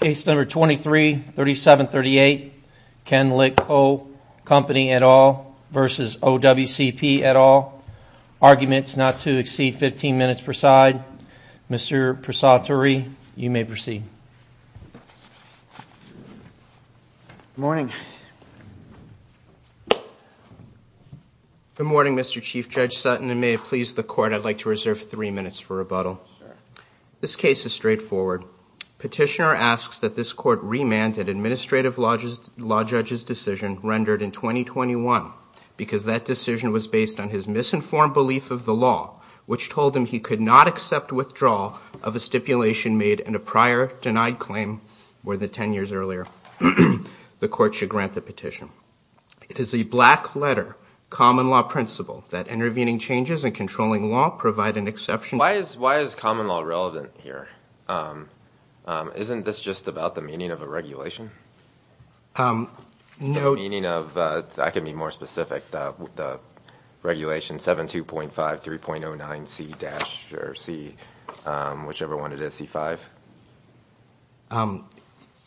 Case number 23-3738 Ken Lick Coal Company et al. v. OWCP et al. Arguments not to exceed 15 minutes per side. Mr. Prasad Turi, you may proceed. Good morning. Good morning, Mr. Chief Judge Sutton. And may it please the court, I'd like to reserve three minutes for rebuttal. This case is straightforward. Petitioner asks that this court remanded administrative law judge's decision rendered in 2021, because that decision was based on his misinformed belief of the law, which told him he could not accept withdrawal of a stipulation made in a prior denied claim more than 10 years earlier. The court should grant the petition. It is a black letter, common law principle, that intervening changes and controlling law provide an exception. Why is common law relevant here? Isn't this just about the meaning of a regulation? No. Meaning of, I can be more specific, the regulation 7.2.5, 3.09C- or C, whichever one it is, C-5?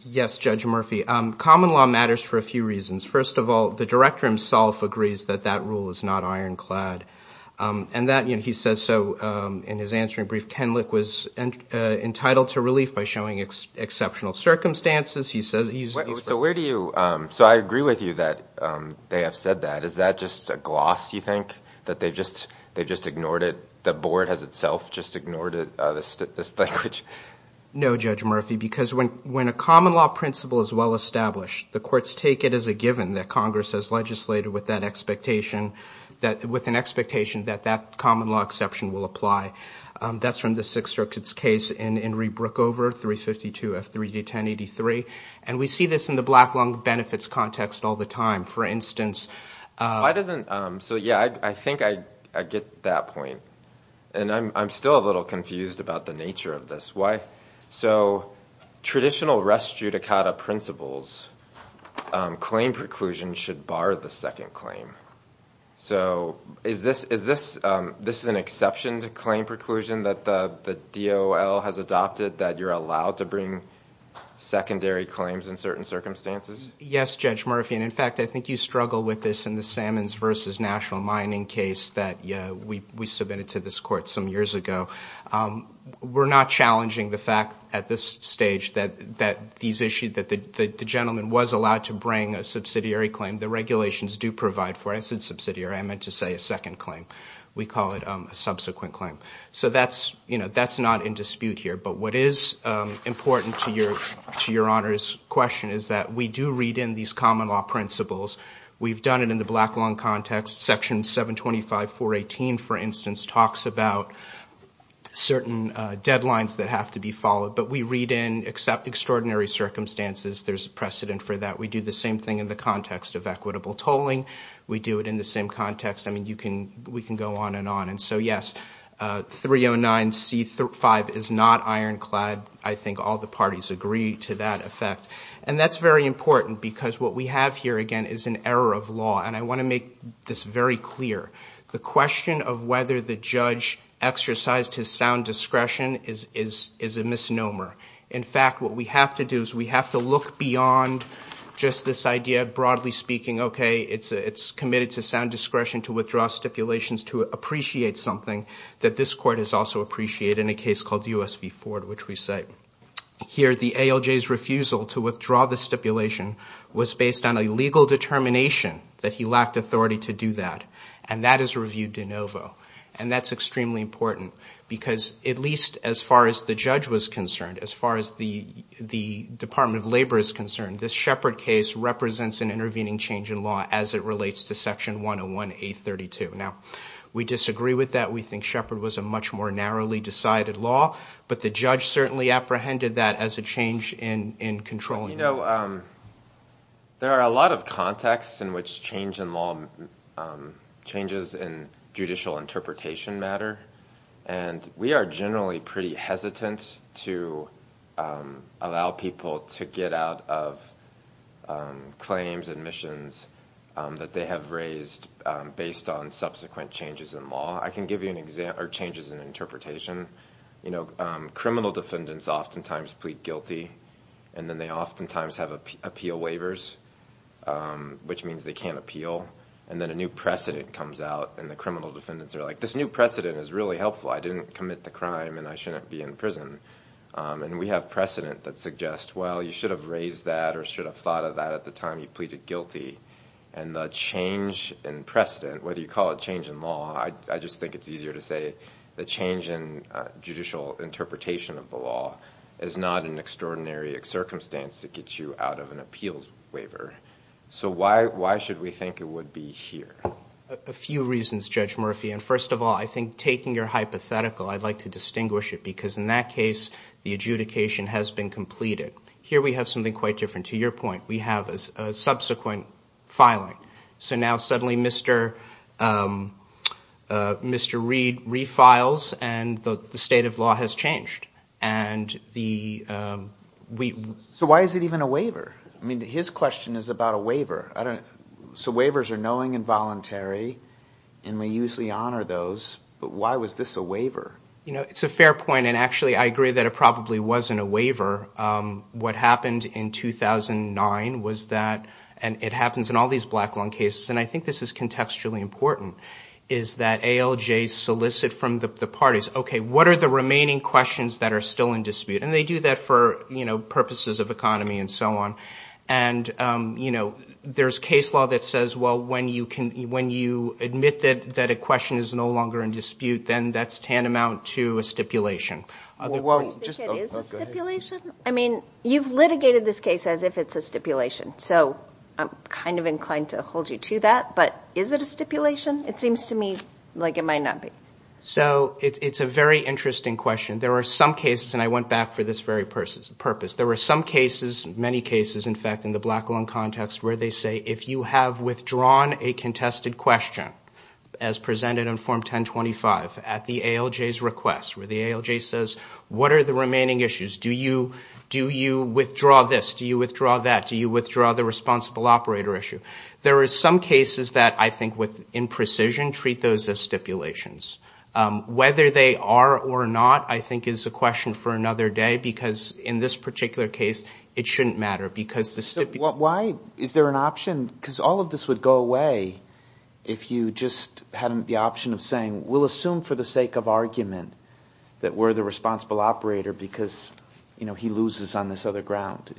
Yes, Judge Murphy. Common law matters for a few reasons. First of all, the director himself agrees that that rule is not ironclad. And that, he says so in his answering brief, Kenlick was entitled to relief by showing exceptional circumstances. He says he's- So where do you, so I agree with you that they have said that. Is that just a gloss, you think, that they've just ignored it? The board has itself just ignored this language? No, Judge Murphy, because when a common law principle is well-established, the courts take it as a given that Congress has legislated with that expectation, with an expectation that that common law exception will apply. That's from the Sixth Circuit's case in Enrique Brookover, 352F3D1083. And we see this in the Black Lung Benefits context all the time. For instance- Why doesn't, so yeah, I think I get that point. And I'm still a little confused about the nature of this. Why? So traditional res judicata principles, claim preclusion should bar the second claim. So is this an exception to claim preclusion that the DOL has adopted, that you're allowed to bring secondary claims in certain circumstances? Yes, Judge Murphy. And in fact, I think you struggle with this in the Salmons versus National Mining case that we submitted to this court some years ago. We're not challenging the fact at this stage that these issues, that the gentleman was allowed to bring a subsidiary claim. The regulations do provide for, I said subsidiary, I meant to say a second claim. We call it a subsequent claim. So that's not in dispute here. But what is important to your honor's question is that we do read in these common law principles. We've done it in the Black Lung context. Section 725.418, for instance, talks about certain deadlines that have to be followed. But we read in, except extraordinary circumstances, there's a precedent for that. We do the same thing in the context of equitable tolling. We do it in the same context. I mean, we can go on and on. And so yes, 309C5 is not ironclad. I think all the parties agree to that effect. And that's very important because what we have here, again, is an error of law. And I want to make this very clear. The question of whether the judge exercised his sound discretion is a misnomer. In fact, what we have to do is we have to look beyond just this idea, broadly speaking. OK, it's committed to sound discretion to withdraw stipulations to appreciate something that this court has also appreciated in a case called US v. Ford, which we cite. Here, the ALJ's refusal to withdraw the stipulation was based on a legal determination that he lacked authority to do that. And that is reviewed de novo. And that's extremely important because at least as far as the judge was concerned, as far as the Department of Labor is concerned, this Shepard case represents an intervening change in law as it relates to Section 101A32. Now, we disagree with that. We think Shepard was a much more narrowly decided law. But the judge certainly apprehended that as a change in controlling law. There are a lot of contexts in which change in law changes in judicial interpretation matter. And we are generally pretty hesitant to allow people to get out of claims, admissions that they have raised based on subsequent changes in law. I can give you changes in interpretation. Criminal defendants oftentimes plead guilty. And then they oftentimes have appeal waivers, which means they can't appeal. And then a new precedent comes out. And the criminal defendants are like, this new precedent is really helpful. I didn't commit the crime. And I shouldn't be in prison. And we have precedent that suggests, well, you should have raised that or should have thought of that at the time you pleaded guilty. And the change in precedent, whether you call it change in law, I just think it's easier to say the change in judicial interpretation of the law is not an extraordinary circumstance to get you out of an appeals waiver. So why should we think it would be here? A few reasons, Judge Murphy. And first of all, I think taking your hypothetical, I'd like to distinguish it. Because in that case, the adjudication has been completed. Here we have something quite different. To your point, we have a subsequent filing. So now suddenly Mr. Reed refiles. And the state of law has changed. So why is it even a waiver? His question is about a waiver. So waivers are knowing and voluntary. And we usually honor those. But why was this a waiver? It's a fair point. And actually, I agree that it probably wasn't a waiver. What happened in 2009 was that, and it happens in all these black lung cases. And I think this is contextually important, is that ALJ solicit from the parties, OK, what are the remaining questions that are still in dispute? And they do that for purposes of economy and so on. And there's case law that says, well, when you admit that a question is no longer in dispute, then that's tantamount to a stipulation. Well, just go ahead. Do you think it is a stipulation? I mean, you've litigated this case as if it's a stipulation. So I'm kind of inclined to hold you to that. But is it a stipulation? It seems to me like it might not be. So it's a very interesting question. There are some cases, and I went back for this very purpose. There were some cases, many cases, in fact, in the black lung context, where they say, if you have withdrawn a contested question, as presented in Form 1025, at the ALJ's request, where the ALJ says, what are the remaining issues? Do you withdraw this? Do you withdraw that? Do you withdraw the responsible operator issue? There are some cases that I think with imprecision treat those as stipulations. Whether they are or not, I think, is a question for another day. Because in this particular case, it shouldn't matter. Because the stipulation. Why? Is there an option? Because all of this would go away if you just had the option of saying, we'll assume for the sake of argument that we're the responsible operator because he loses on this other ground.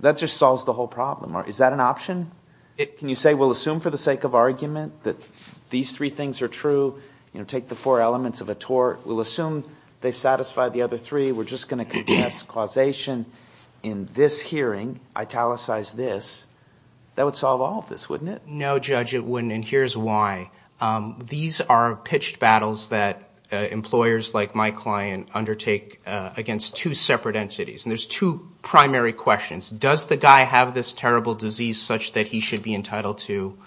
That just solves the whole problem. Is that an option? Can you say, we'll assume for the sake of argument that these three things are true. Take the four elements of a tort. We'll assume they've satisfied the other three. We're just going to contest causation in this hearing. Italicize this. That would solve all of this, wouldn't it? No, Judge, it wouldn't. And here's why. These are pitched battles that employers like my client undertake against two separate entities. And there's two primary questions. Does the guy have this terrible disease such that he should be entitled to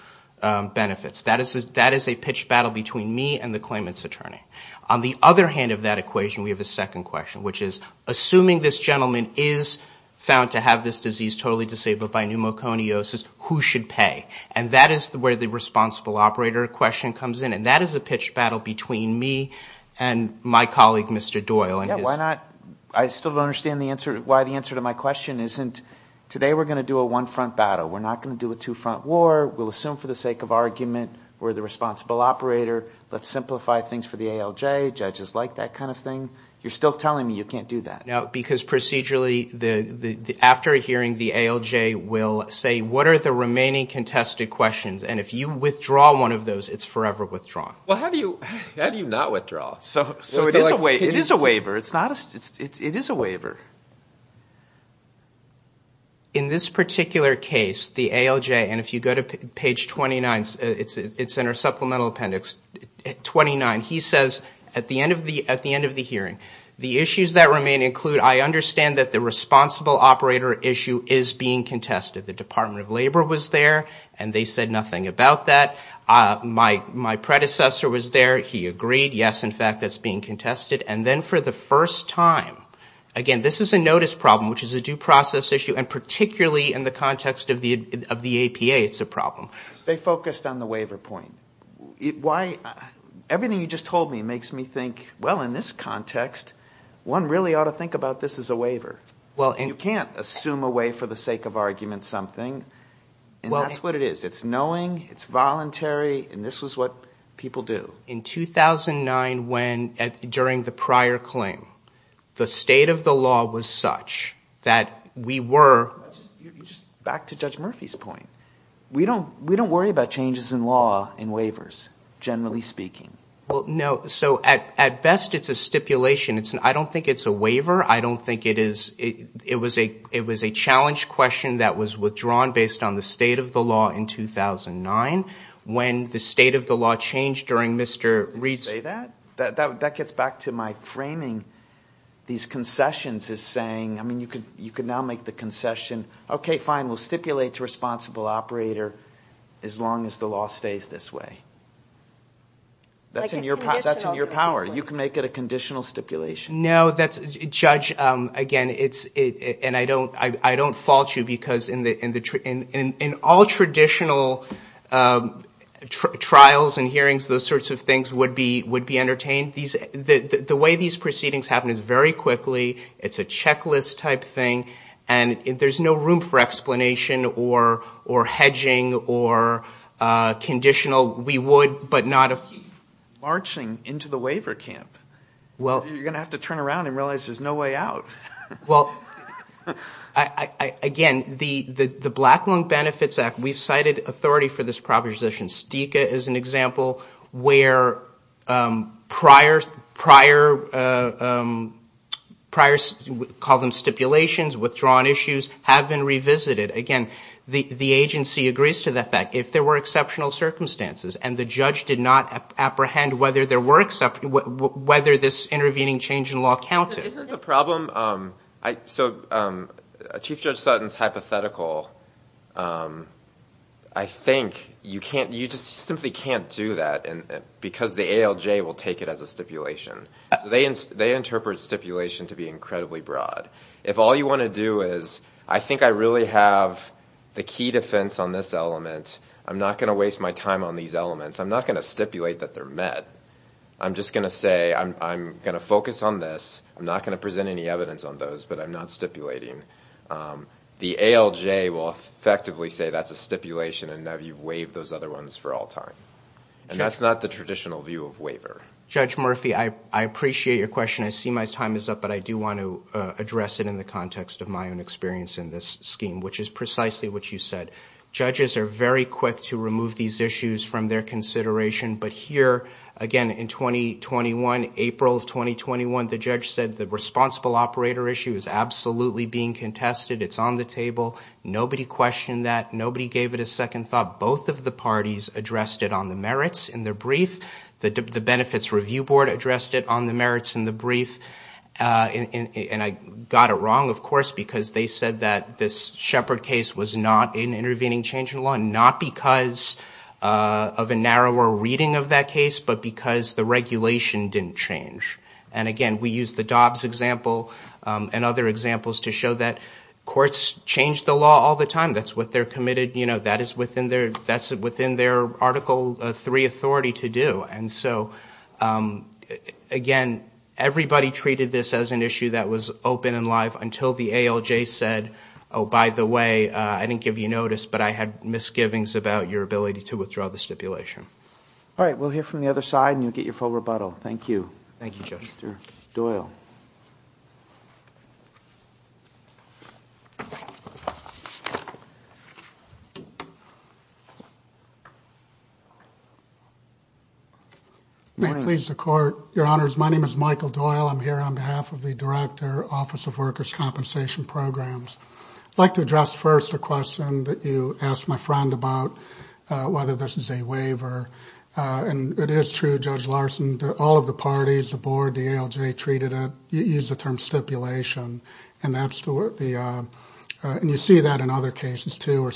benefits? That is a pitched battle between me and the claimant's attorney. On the other hand of that equation, we have a second question, which is, assuming this gentleman is found to have this disease totally disabled by pneumoconiosis, who should pay? And that is where the responsible operator question comes in. And that is a pitched battle between me and my colleague, Mr. Doyle. I still don't understand why the answer to my question isn't, today we're going to do a one front battle. We're not going to do a two front war. We'll assume for the sake of argument we're the responsible operator. Let's simplify things for the ALJ. Judges like that kind of thing. You're still telling me you can't do that. Because procedurally, after a hearing, the ALJ will say, what are the remaining contested questions? And if you withdraw one of those, it's forever withdrawn. Well, how do you not withdraw? So it is a waiver. It is a waiver. In this particular case, the ALJ, and if you go to page 29, it's in our supplemental appendix, 29, he says, at the end of the hearing, the issues that remain include, I understand that the responsible operator issue is being contested. The Department of Labor was there, and they said nothing about that. My predecessor was there. He agreed. Yes, in fact, that's being contested. And then for the first time, again, this is a notice problem, which is a due process issue. And particularly in the context of the APA, it's a problem. Stay focused on the waiver point. Everything you just told me makes me think, well, in this context, one really ought to think about this as a waiver. You can't assume away for the sake of argument something. And that's what it is. It's knowing, it's voluntary, and this was what people do. In 2009, during the prior claim, the state of the law was such that we were. Back to Judge Murphy's point, we don't worry about changes in law in waivers, generally speaking. Well, no. So at best, it's a stipulation. I don't think it's a waiver. I don't think it is. It was a challenge question that was withdrawn based on the state of the law in 2009, when the state of the law changed during Mr. Reed's. Did you say that? That gets back to my framing these concessions as saying, I mean, you could now make the concession, OK, fine, we'll stipulate to a responsible operator as long as the law stays this way. That's in your power. You can make it a conditional stipulation. No, Judge, again, and I don't fault you, because in all traditional trials and hearings, those sorts of things would be entertained. The way these proceedings happen is very quickly. It's a checklist type thing. And if there's no room for explanation, or hedging, or conditional, we would, but not if. Marching into the waiver camp. You're going to have to turn around and realize there's no way out. Well, again, the Black Lung Benefits Act, we've cited authority for this proposition. STICA is an example where prior, call them stipulations, withdrawn issues have been revisited. Again, the agency agrees to the fact, if there were exceptional circumstances and the judge did not apprehend whether this intervening change in law counted. Isn't the problem, so Chief Judge Sutton's hypothetical, I think you just simply can't do that, because the ALJ will take it as a stipulation. They interpret stipulation to be incredibly broad. If all you want to do is, I think I really have the key defense on this element. I'm not going to waste my time on these elements. I'm not going to stipulate that they're met. I'm just going to say, I'm going to focus on this. I'm not going to present any evidence on those, but I'm not stipulating. The ALJ will effectively say that's a stipulation and that you've waived those other ones for all time. And that's not the traditional view of waiver. Judge Murphy, I appreciate your question. I see my time is up, but I do want to address it in the context of my own experience in this scheme, which is precisely what you said. Judges are very quick to remove these issues from their consideration. But here, again, in 2021, April of 2021, the judge said the responsible operator issue is absolutely being contested. It's on the table. Nobody questioned that. Nobody gave it a second thought. Both of the parties addressed it on the merits in their brief. The Benefits Review Board addressed it on the merits in the brief. And I got it wrong, of course, because they said that this Shepard case was not in intervening change in law, not because of a narrower reading of that case, but because the regulation didn't change. And again, we use the Dobbs example and other examples to show that courts change the law all the time. That's what they're committed. That is within their Article III authority to do. And so again, everybody treated this as an issue that was open and live until the ALJ said, oh, by the way, I didn't give you notice, but I had misgivings about your ability to withdraw the stipulation. All right, we'll hear from the other side, and you'll get your full rebuttal. Thank you. Thank you, Judge. Doyle. May it please the Court. Your Honors, my name is Michael Doyle. I'm here on behalf of the Director, Office of Workers Compensation Programs. I'd like to address first a question that you asked my friend about, whether this is a waiver. And it is true, Judge Larson, that all of the parties, the board, the ALJ, treated it, used the term stipulation. And you see that in other cases, too, where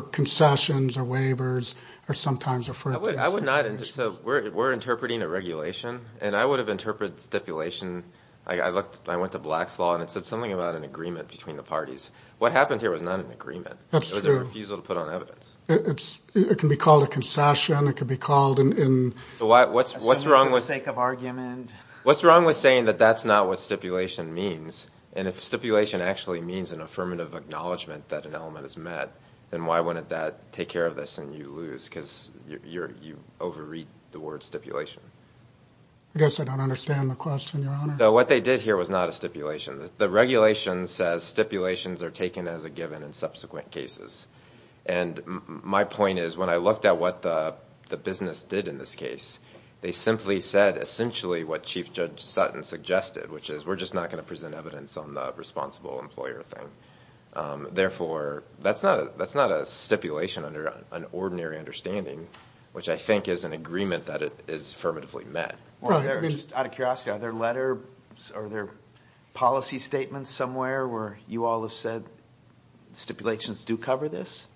concessions or waivers are sometimes a friction. I would not, so we're interpreting a regulation. And I would have interpreted stipulation, I went to Black's Law, and it said something about an agreement between the parties. What happened here was not an agreement. It was a refusal to put on evidence. It can be called a concession. It could be called an assent for the sake of argument. What's wrong with saying that that's not what stipulation means? And if stipulation actually means an affirmative acknowledgment that an element is met, then why wouldn't that take care of this and you lose? Because you overread the word stipulation. I guess I don't understand the question, Your Honor. So what they did here was not a stipulation. The regulation says stipulations are taken as a given in subsequent cases. And my point is, when I looked at what the business did in this case, they simply said essentially what Chief Judge Sutton suggested, which is we're just not going to present evidence on the responsible employer thing. Therefore, that's not a stipulation under an ordinary understanding, which I think is an agreement that it is affirmatively met. Well, just out of curiosity, are there letters or are there policy statements somewhere where you all have said stipulations do cover this?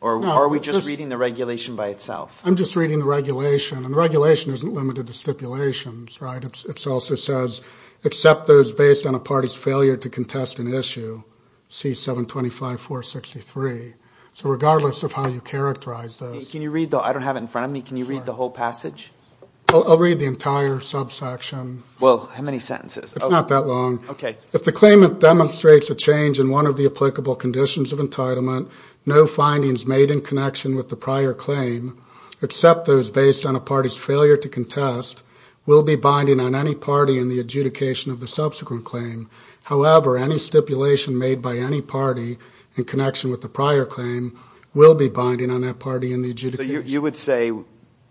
Or are we just reading the regulation by itself? I'm just reading the regulation. And the regulation isn't limited to stipulations, right? It also says, except those based on a party's failure to contest an issue, C-725-463. So regardless of how you characterize this. Can you read the whole passage? I'll read the entire subsection. Well, how many sentences? It's not that long. If the claimant demonstrates a change in one of the applicable conditions of entitlement, no findings made in connection with the prior claim, except those based on a party's failure to contest, will be binding on any party in the adjudication of the subsequent claim. However, any stipulation made by any party in connection with the prior claim will be binding on that party in the adjudication. You would say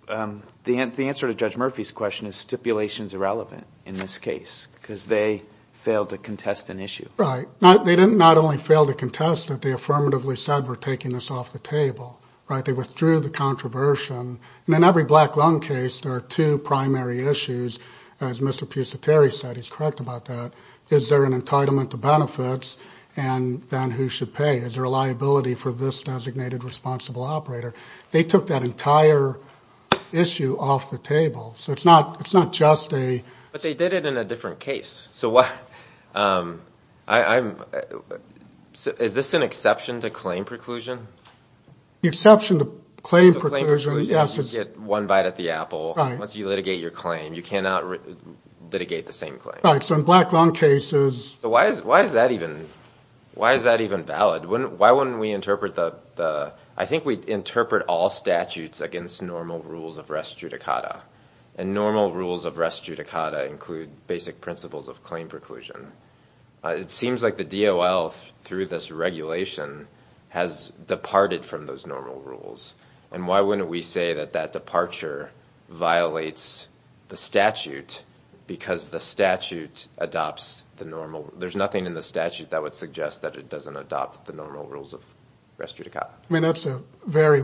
the answer to Judge Murphy's question is stipulations irrelevant in this case because they failed to contest an issue. Right. They didn't not only fail to contest it. They affirmatively said, we're taking this off the table. They withdrew the controversy. And in every black loan case, there are two primary issues. As Mr. Pusateri said, he's correct about that. Is there an entitlement to benefits? And then who should pay? Is there a liability for this designated responsible operator? They took that entire issue off the table. So it's not just a- But they did it in a different case. So is this an exception to claim preclusion? The exception to claim preclusion, yes. You get one bite at the apple once you litigate your claim. You cannot litigate the same claim. Right, so in black loan cases- So why is that even valid? Why wouldn't we interpret the- I think we interpret all statutes against normal rules of res judicata. And normal rules of res judicata include basic principles of claim preclusion. It seems like the DOL, through this regulation, has departed from those normal rules. And why wouldn't we say that that departure violates the statute because the statute adopts the normal- there's nothing in the statute that would suggest that it doesn't adopt the normal rules of res judicata. I mean, that's a very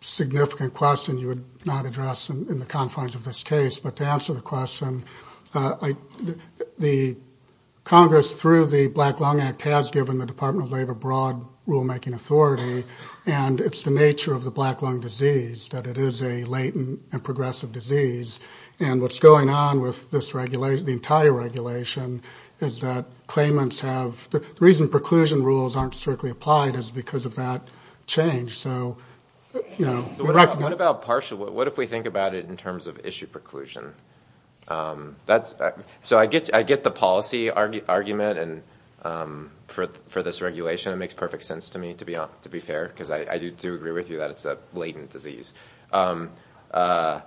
significant question you would not address in the confines of this case. But to answer the question, the Congress, through the Black Lung Act, has given the Department of Labor broad rulemaking authority. And it's the nature of the black lung disease that it is a latent and progressive disease. And what's going on with this regulation, the entire regulation, is that claimants have- the reason preclusion rules aren't strictly applied is because of that change. So, you know, we recommend- What about partial- what if we think about it in terms of issue preclusion? So I get the policy argument for this regulation. It makes perfect sense to me, to be fair, because I do agree with you that it's a latent disease. But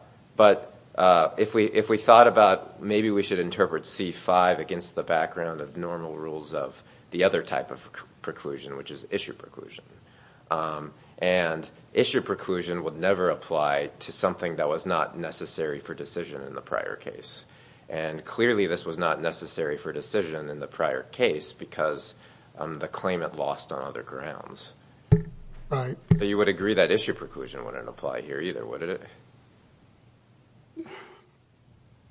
if we thought about, maybe we should interpret C5 against the background of normal rules of the other type of preclusion, which is issue preclusion. And issue preclusion would never apply to something that was not necessary for decision in the prior case. And clearly, this was not necessary for decision in the prior case because the claimant lost on other grounds. But you would agree that issue preclusion wouldn't apply here either, wouldn't it?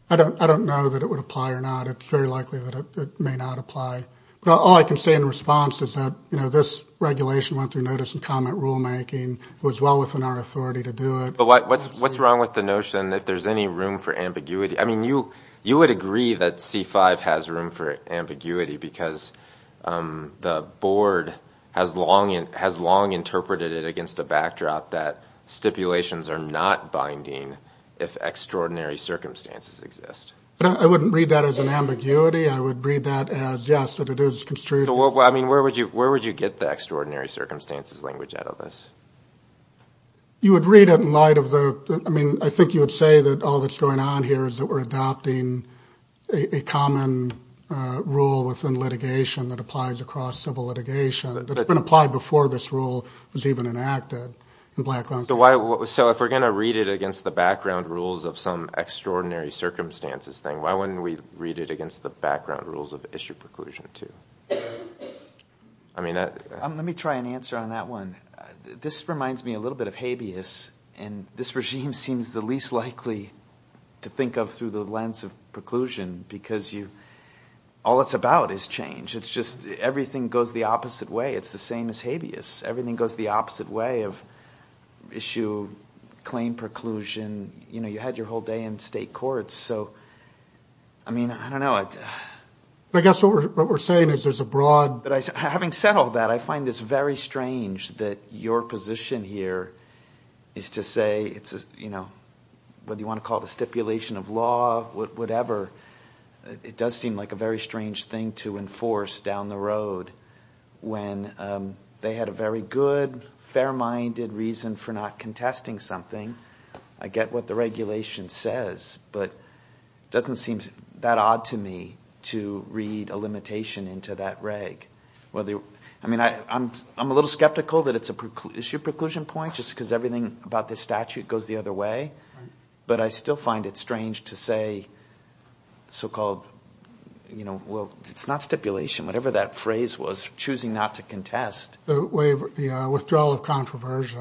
I don't know that it would apply or not. It's very likely that it may not apply. But all I can say in response is that, you know, this regulation went through notice and comment rulemaking. It was well within our authority to do it. But what's wrong with the notion that there's any room for ambiguity? I mean, you would agree that C5 has room for ambiguity because the board has long interpreted it against a backdrop that stipulations are not binding if extraordinary circumstances exist. But I wouldn't read that as an ambiguity. I would read that as, yes, that it is construed as- I mean, where would you get the extraordinary circumstances language out of this? You would read it in light of the, I mean, I think you would say that all that's going on here is that we're adopting a common rule within litigation that applies across civil litigation that had been applied before this rule was even enacted in Black- So if we're going to read it against the background rules of some extraordinary circumstances thing, why wouldn't we read it against the background rules of issue preclusion, too? I mean, that- Let me try and answer on that one. This reminds me a little bit of habeas. And this regime seems the least likely to think of through the lens of preclusion because all it's about is change. It's just everything goes the opposite way. It's the same as habeas. Everything goes the opposite way of issue, claim preclusion. You had your whole day in state courts. So I mean, I don't know. I guess what we're saying is there's a broad- Having said all that, I find this very strange that your position here is to say it's a, you know, whether you want to call it a stipulation of law, whatever, it does seem like a very strange thing to enforce down the road when they had a very good, fair-minded reason for not contesting something. I get what the regulation says, but it doesn't seem that odd to me to read a limitation into that reg. I mean, I'm a little skeptical that it's a preclusion point just because everything about the statute goes the other way. But I still find it strange to say so-called, you know, well, it's not stipulation. Whatever that phrase was, choosing not to contest. The way of the withdrawal of controversy.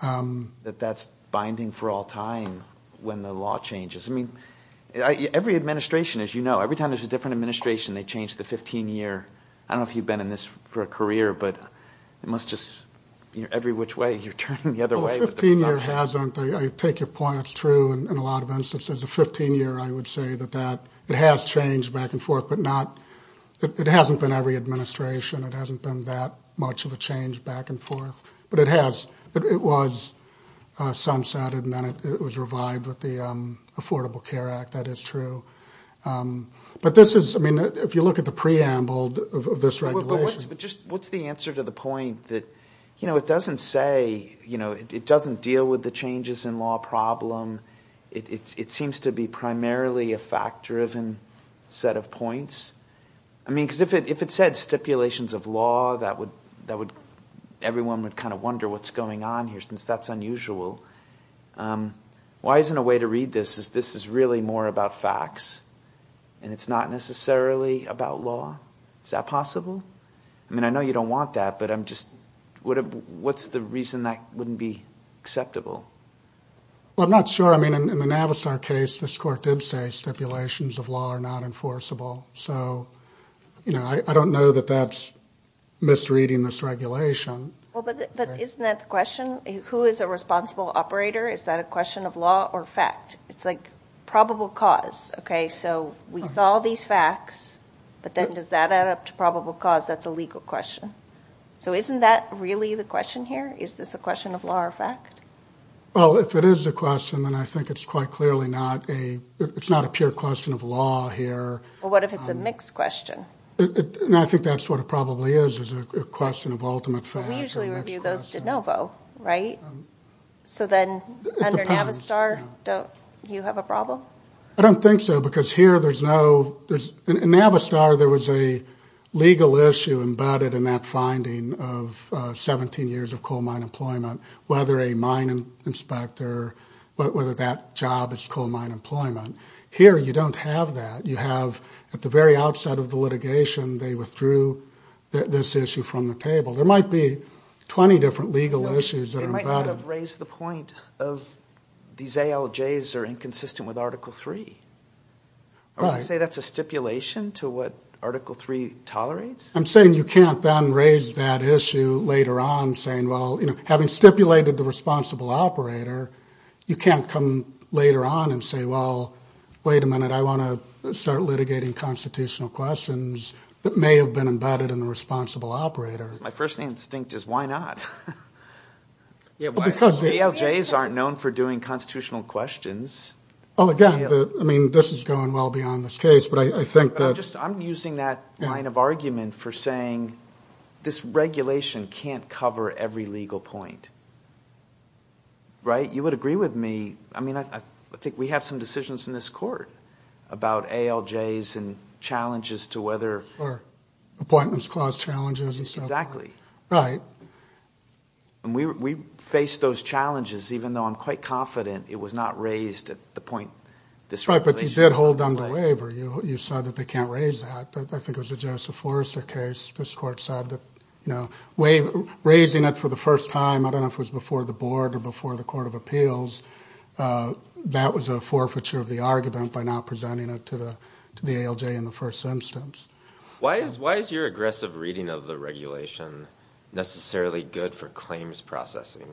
That that's binding for all time when the law changes. I mean, every administration, as you know, every time there's a different administration, they change the 15-year. I don't know if you've been in this for a career, but it must just, you know, every which way, you're turning the other way. Well, the 15-year hasn't, I take your point, it's true in a lot of instances. The 15-year, I would say that that, it has changed back and forth, but not, it hasn't been every administration. It hasn't been that much of a change back and forth. But it has, it was sunsetted, and then it was revived with the Affordable Care Act. That is true. But this is, I mean, if you look at the preamble of this regulation. What's the answer to the point that, you know, it doesn't say, you know, it doesn't deal with the changes in law problem. It seems to be primarily a fact-driven set of points. I mean, because if it said stipulations of law, that would, everyone would kind of wonder what's going on here, since that's unusual. Why isn't a way to read this, is this is really more about facts, and it's not necessarily about law? Is that possible? I mean, I know you don't want that, but I'm just, what's the reason that wouldn't be acceptable? Well, I'm not sure. I mean, in the Navistar case, this court did say stipulations of law are not enforceable. So, you know, I don't know that that's misreading this regulation. Well, but isn't that the question? Who is a responsible operator? Is that a question of law or fact? It's like probable cause, okay? So we saw these facts, but then does that add up to probable cause? That's a legal question. So isn't that really the question here? Is this a question of law or fact? Well, if it is a question, then I think it's quite clearly not a, it's not a pure question of law here. Well, what if it's a mixed question? And I think that's what it probably is, is a question of ultimate fact. We usually review those de novo, right? So then under Navistar, don't you have a problem? I don't think so, because here there's no, there's, in Navistar, there was a legal issue embedded in that finding of 17 years of coal mine employment, whether a mine inspector, whether that job is coal mine employment. Here, you don't have that. You have, at the very outset of the litigation, they withdrew this issue from the table. There might be 20 different legal issues that are embedded. They might not have raised the point of, these ALJs are inconsistent with Article III. I would say that's a stipulation to what Article III tolerates. I'm saying you can't then raise that issue later on, saying, well, having stipulated the responsible operator, you can't come later on and say, well, wait a minute, I wanna start litigating constitutional questions that may have been embedded in the responsible operator. My first instinct is, why not? Because ALJs aren't known for doing constitutional questions. Well, again, I mean, this is going well beyond this case, but I think that- I'm just, I'm using that line of argument for saying this regulation can't cover every legal point. Right? You would agree with me. I mean, I think we have some decisions in this court about ALJs and challenges to whether- Or appointments clause challenges and so forth. Exactly. Right. And we face those challenges, even though I'm quite confident it was not raised at the point this regulation was laid. Right, but you did hold them to waiver. You said that they can't raise that. I think it was the Joseph Forrester case. This court said that raising it for the first time, I don't know if it was before the board or before the Court of Appeals, that was a forfeiture of the argument by not presenting it to the ALJ in the first instance. Why is your aggressive reading of the regulation necessarily good for claims processing?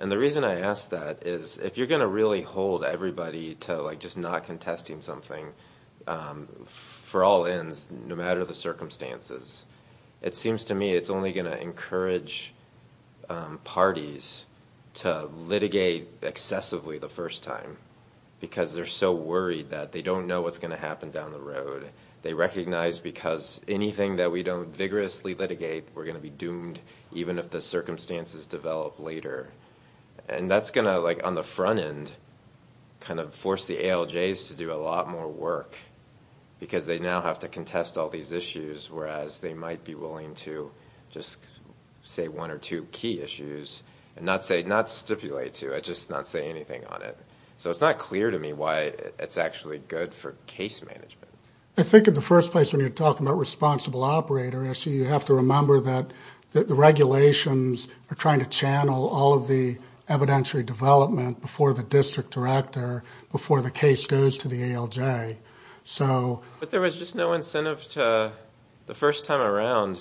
And the reason I ask that is, if you're gonna really hold everybody to just not contesting something for all ends, no matter the circumstances, it seems to me it's only gonna encourage parties to litigate excessively the first time because they're so worried that they don't know what's gonna happen down the road. They recognize because anything that we don't vigorously litigate, we're gonna be doomed even if the circumstances develop later. And that's gonna, like on the front end, kind of force the ALJs to do a lot more work because they now have to contest all these issues whereas they might be willing to just say one or two key issues and not stipulate to it, just not say anything on it. So it's not clear to me why it's actually good for case management. I think in the first place when you're talking about responsible operator, you have to remember that the regulations are trying to channel all of the evidentiary development before the district director, before the case goes to the ALJ. But there was just no incentive to, the first time around,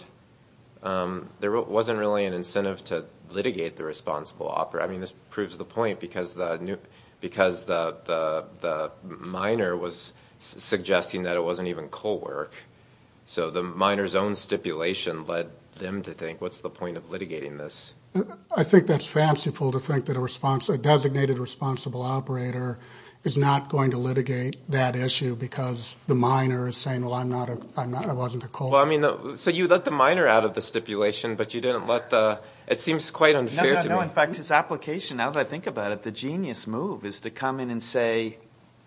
there wasn't really an incentive to litigate the responsible operator. I mean, this proves the point because the minor was suggesting that it wasn't even co-work. So the minor's own stipulation led them to think what's the point of litigating this? I think that's fanciful to think that a designated responsible operator is not going to litigate that issue because the minor is saying, well, I wasn't a co-worker. So you let the minor out of the stipulation but you didn't let the, it seems quite unfair to me. No, no, no, in fact, his application, now that I think about it, the genius move is to come in and say,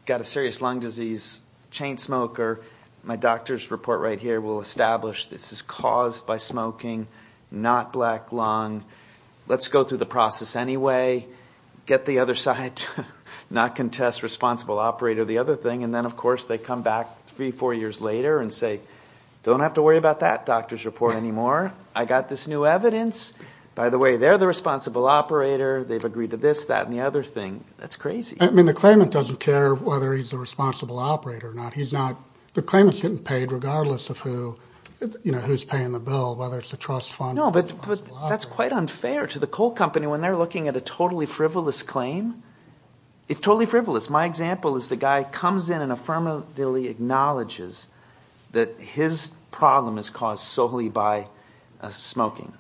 got a serious lung disease, chain smoker, my doctor's report right here will establish this is caused by smoking, not black lung. Let's go through the process anyway, get the other side, not contest responsible operator, the other thing. And then, of course, they come back three, four years later and say, don't have to worry about that doctor's report anymore. I got this new evidence. By the way, they're the responsible operator. They've agreed to this, that, and the other thing. That's crazy. I mean, the claimant doesn't care whether he's the responsible operator or not. He's not, the claimant's getting paid regardless of who's paying the bill, whether it's the trust fund. No, but that's quite unfair to the coal company when they're looking at a totally frivolous claim. It's totally frivolous. My example is the guy comes in and affirmatively acknowledges that his problem is caused solely by smoking.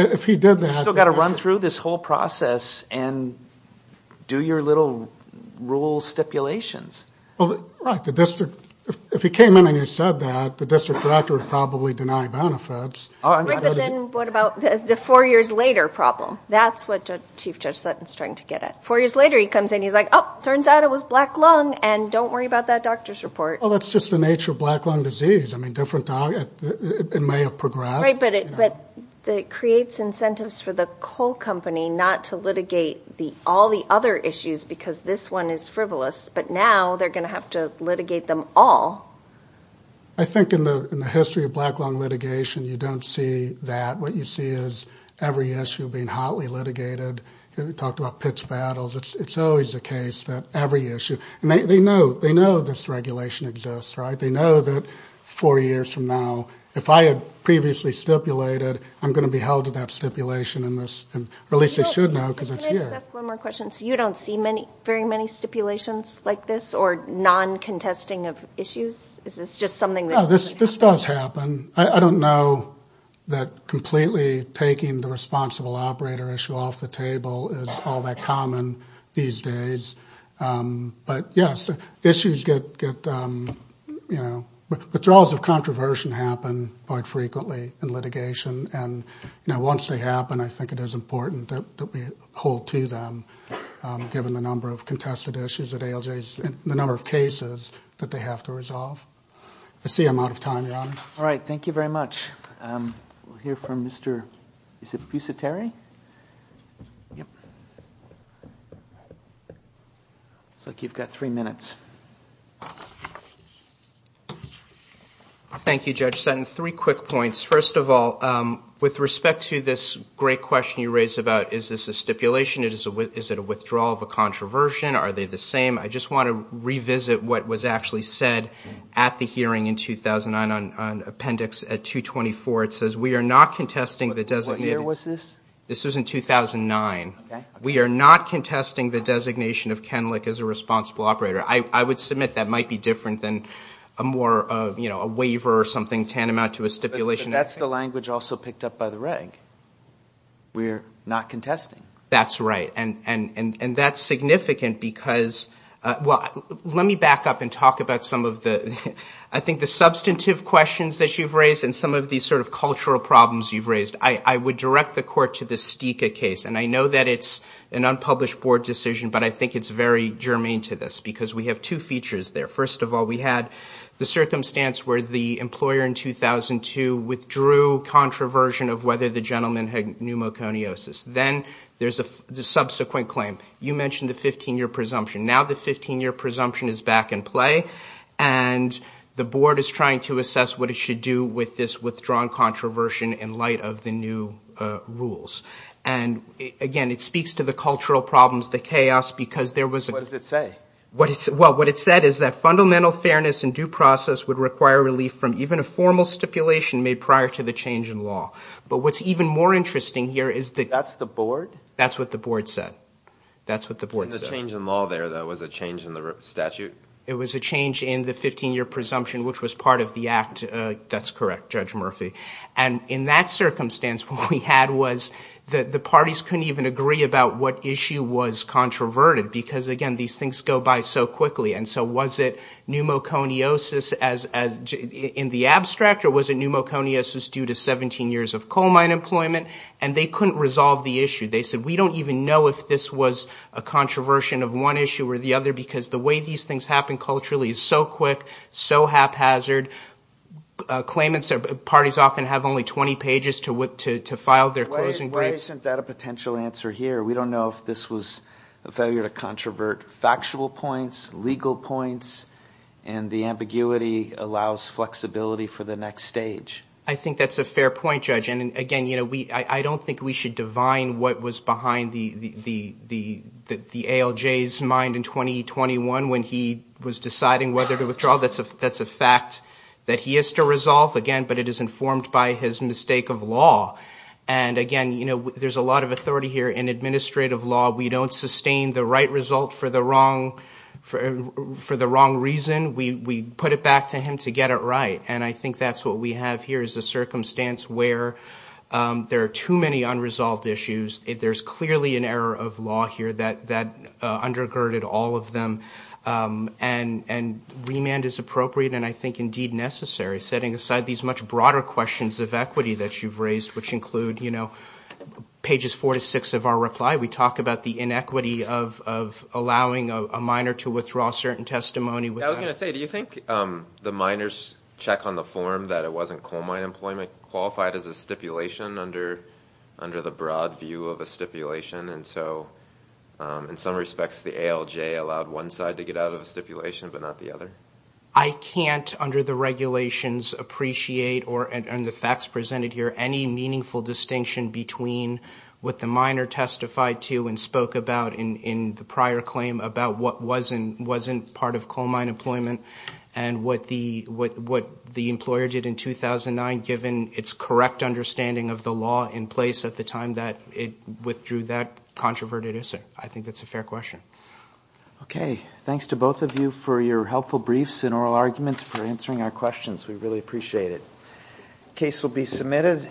If he did that. You still gotta run through this whole process and do your little rule stipulations. Well, right, the district, if he came in and he said that, the district director would probably deny benefits. Right, but then what about the four years later problem? That's what Chief Judge Sutton's trying to get at. Four years later, he comes in and he's like, oh, turns out it was black lung and don't worry about that doctor's report. Well, that's just the nature of black lung disease. I mean, different, it may have progressed. Right, but it creates incentives for the coal company not to litigate all the other issues because this one is frivolous, but now they're gonna have to litigate them all. I think in the history of black lung litigation, you don't see that. What you see is every issue being hotly litigated. We talked about pitch battles. It's always the case that every issue, and they know this regulation exists, right? They know that four years from now, if I had previously stipulated, I'm gonna be held to that stipulation in this, or at least they should know because it's here. Can I just ask one more question? So you don't see very many stipulations like this or non-contesting of issues? Is this just something that doesn't happen? This does happen. I don't know that completely taking the responsible operator issue off the table is all that common these days, but yes, issues get, withdrawals of controversy happen quite frequently in litigation, and once they happen, I think it is important that we hold to them, given the number of contested issues that ALJs, the number of cases that they have to resolve. I see I'm out of time, Your Honor. All right, thank you very much. We'll hear from Mr., is it Busateri? Yep. Looks like you've got three minutes. Thank you, Judge Sutton. Three quick points. First of all, with respect to this great question you raised about, is this a stipulation? Is it a withdrawal of a controversion? Are they the same? I just want to revisit what was actually said at the hearing in 2009 on appendix 224. It says, we are not contesting the designated. What year was this? This was in 2009. We are not contesting the designation of Kenlick as a responsible operator. I would submit that might be different than a more, a waiver or something tantamount to a stipulation. But that's the language also picked up by the reg. We're not contesting. That's right. And that's significant because, well, let me back up and talk about some of the, I think the substantive questions that you've raised and some of these sort of cultural problems you've raised. I would direct the court to the Stika case. And I know that it's an unpublished board decision, but I think it's very germane to this because we have two features there. First of all, we had the circumstance where the employer in 2002 withdrew controversion of whether the gentleman had pneumoconiosis. Then there's the subsequent claim. You mentioned the 15-year presumption. Now the 15-year presumption is back in play and the board is trying to assess what it should do with this withdrawn controversion in light of the new rules. And again, it speaks to the cultural problems, the chaos, because there was- What does it say? Well, what it said is that fundamental fairness and due process would require relief from even a formal stipulation made prior to the change in law. But what's even more interesting here is the- That's the board? That's what the board said. That's what the board said. And the change in law there, that was a change in the statute? It was a change in the 15-year presumption, which was part of the act. That's correct, Judge Murphy. And in that circumstance, what we had was that the parties couldn't even agree about what issue was controverted, because again, these things go by so quickly. And so was it pneumoconiosis in the abstract, or was it pneumoconiosis due to 17 years of coal mine employment? And they couldn't resolve the issue. They said, we don't even know if this was a controversion of one issue or the other, because the way these things happen culturally is so quick, so haphazard. Claimants, parties often have only 20 pages to file their closing- Why isn't that a potential answer here? We don't know if this was a failure to controvert factual points, legal points, and the ambiguity allows flexibility for the next stage. I think that's a fair point, Judge. And again, I don't think we should divine what was behind the ALJ's mind in 2021 when he was deciding whether to withdraw. That's a fact that he has to resolve again, but it is informed by his mistake of law. And again, there's a lot of authority here in administrative law. We don't sustain the right result for the wrong reason. We put it back to him to get it right. And I think that's what we have here is a circumstance where there are too many unresolved issues. There's clearly an error of law here that undergirded all of them. And remand is appropriate, and I think indeed necessary, setting aside these much broader questions of equity that you've raised, which include pages four to six of our reply. We talk about the inequity of allowing a minor to withdraw certain testimony without- I was gonna say, do you think the minor's check on the form that it wasn't coal mine employment qualified as a stipulation under the broad view of a stipulation? And so in some respects, the ALJ allowed one side to get out of a stipulation, but not the other? I can't, under the regulations, appreciate, or in the facts presented here, any meaningful distinction between what the minor testified to and spoke about in the prior claim about what wasn't part of coal mine employment and what the employer did in 2009, given its correct understanding of the law in place at the time that it withdrew that controverted assert. I think that's a fair question. Okay, thanks to both of you for your helpful briefs and oral arguments for answering our questions. We really appreciate it. Case will be submitted.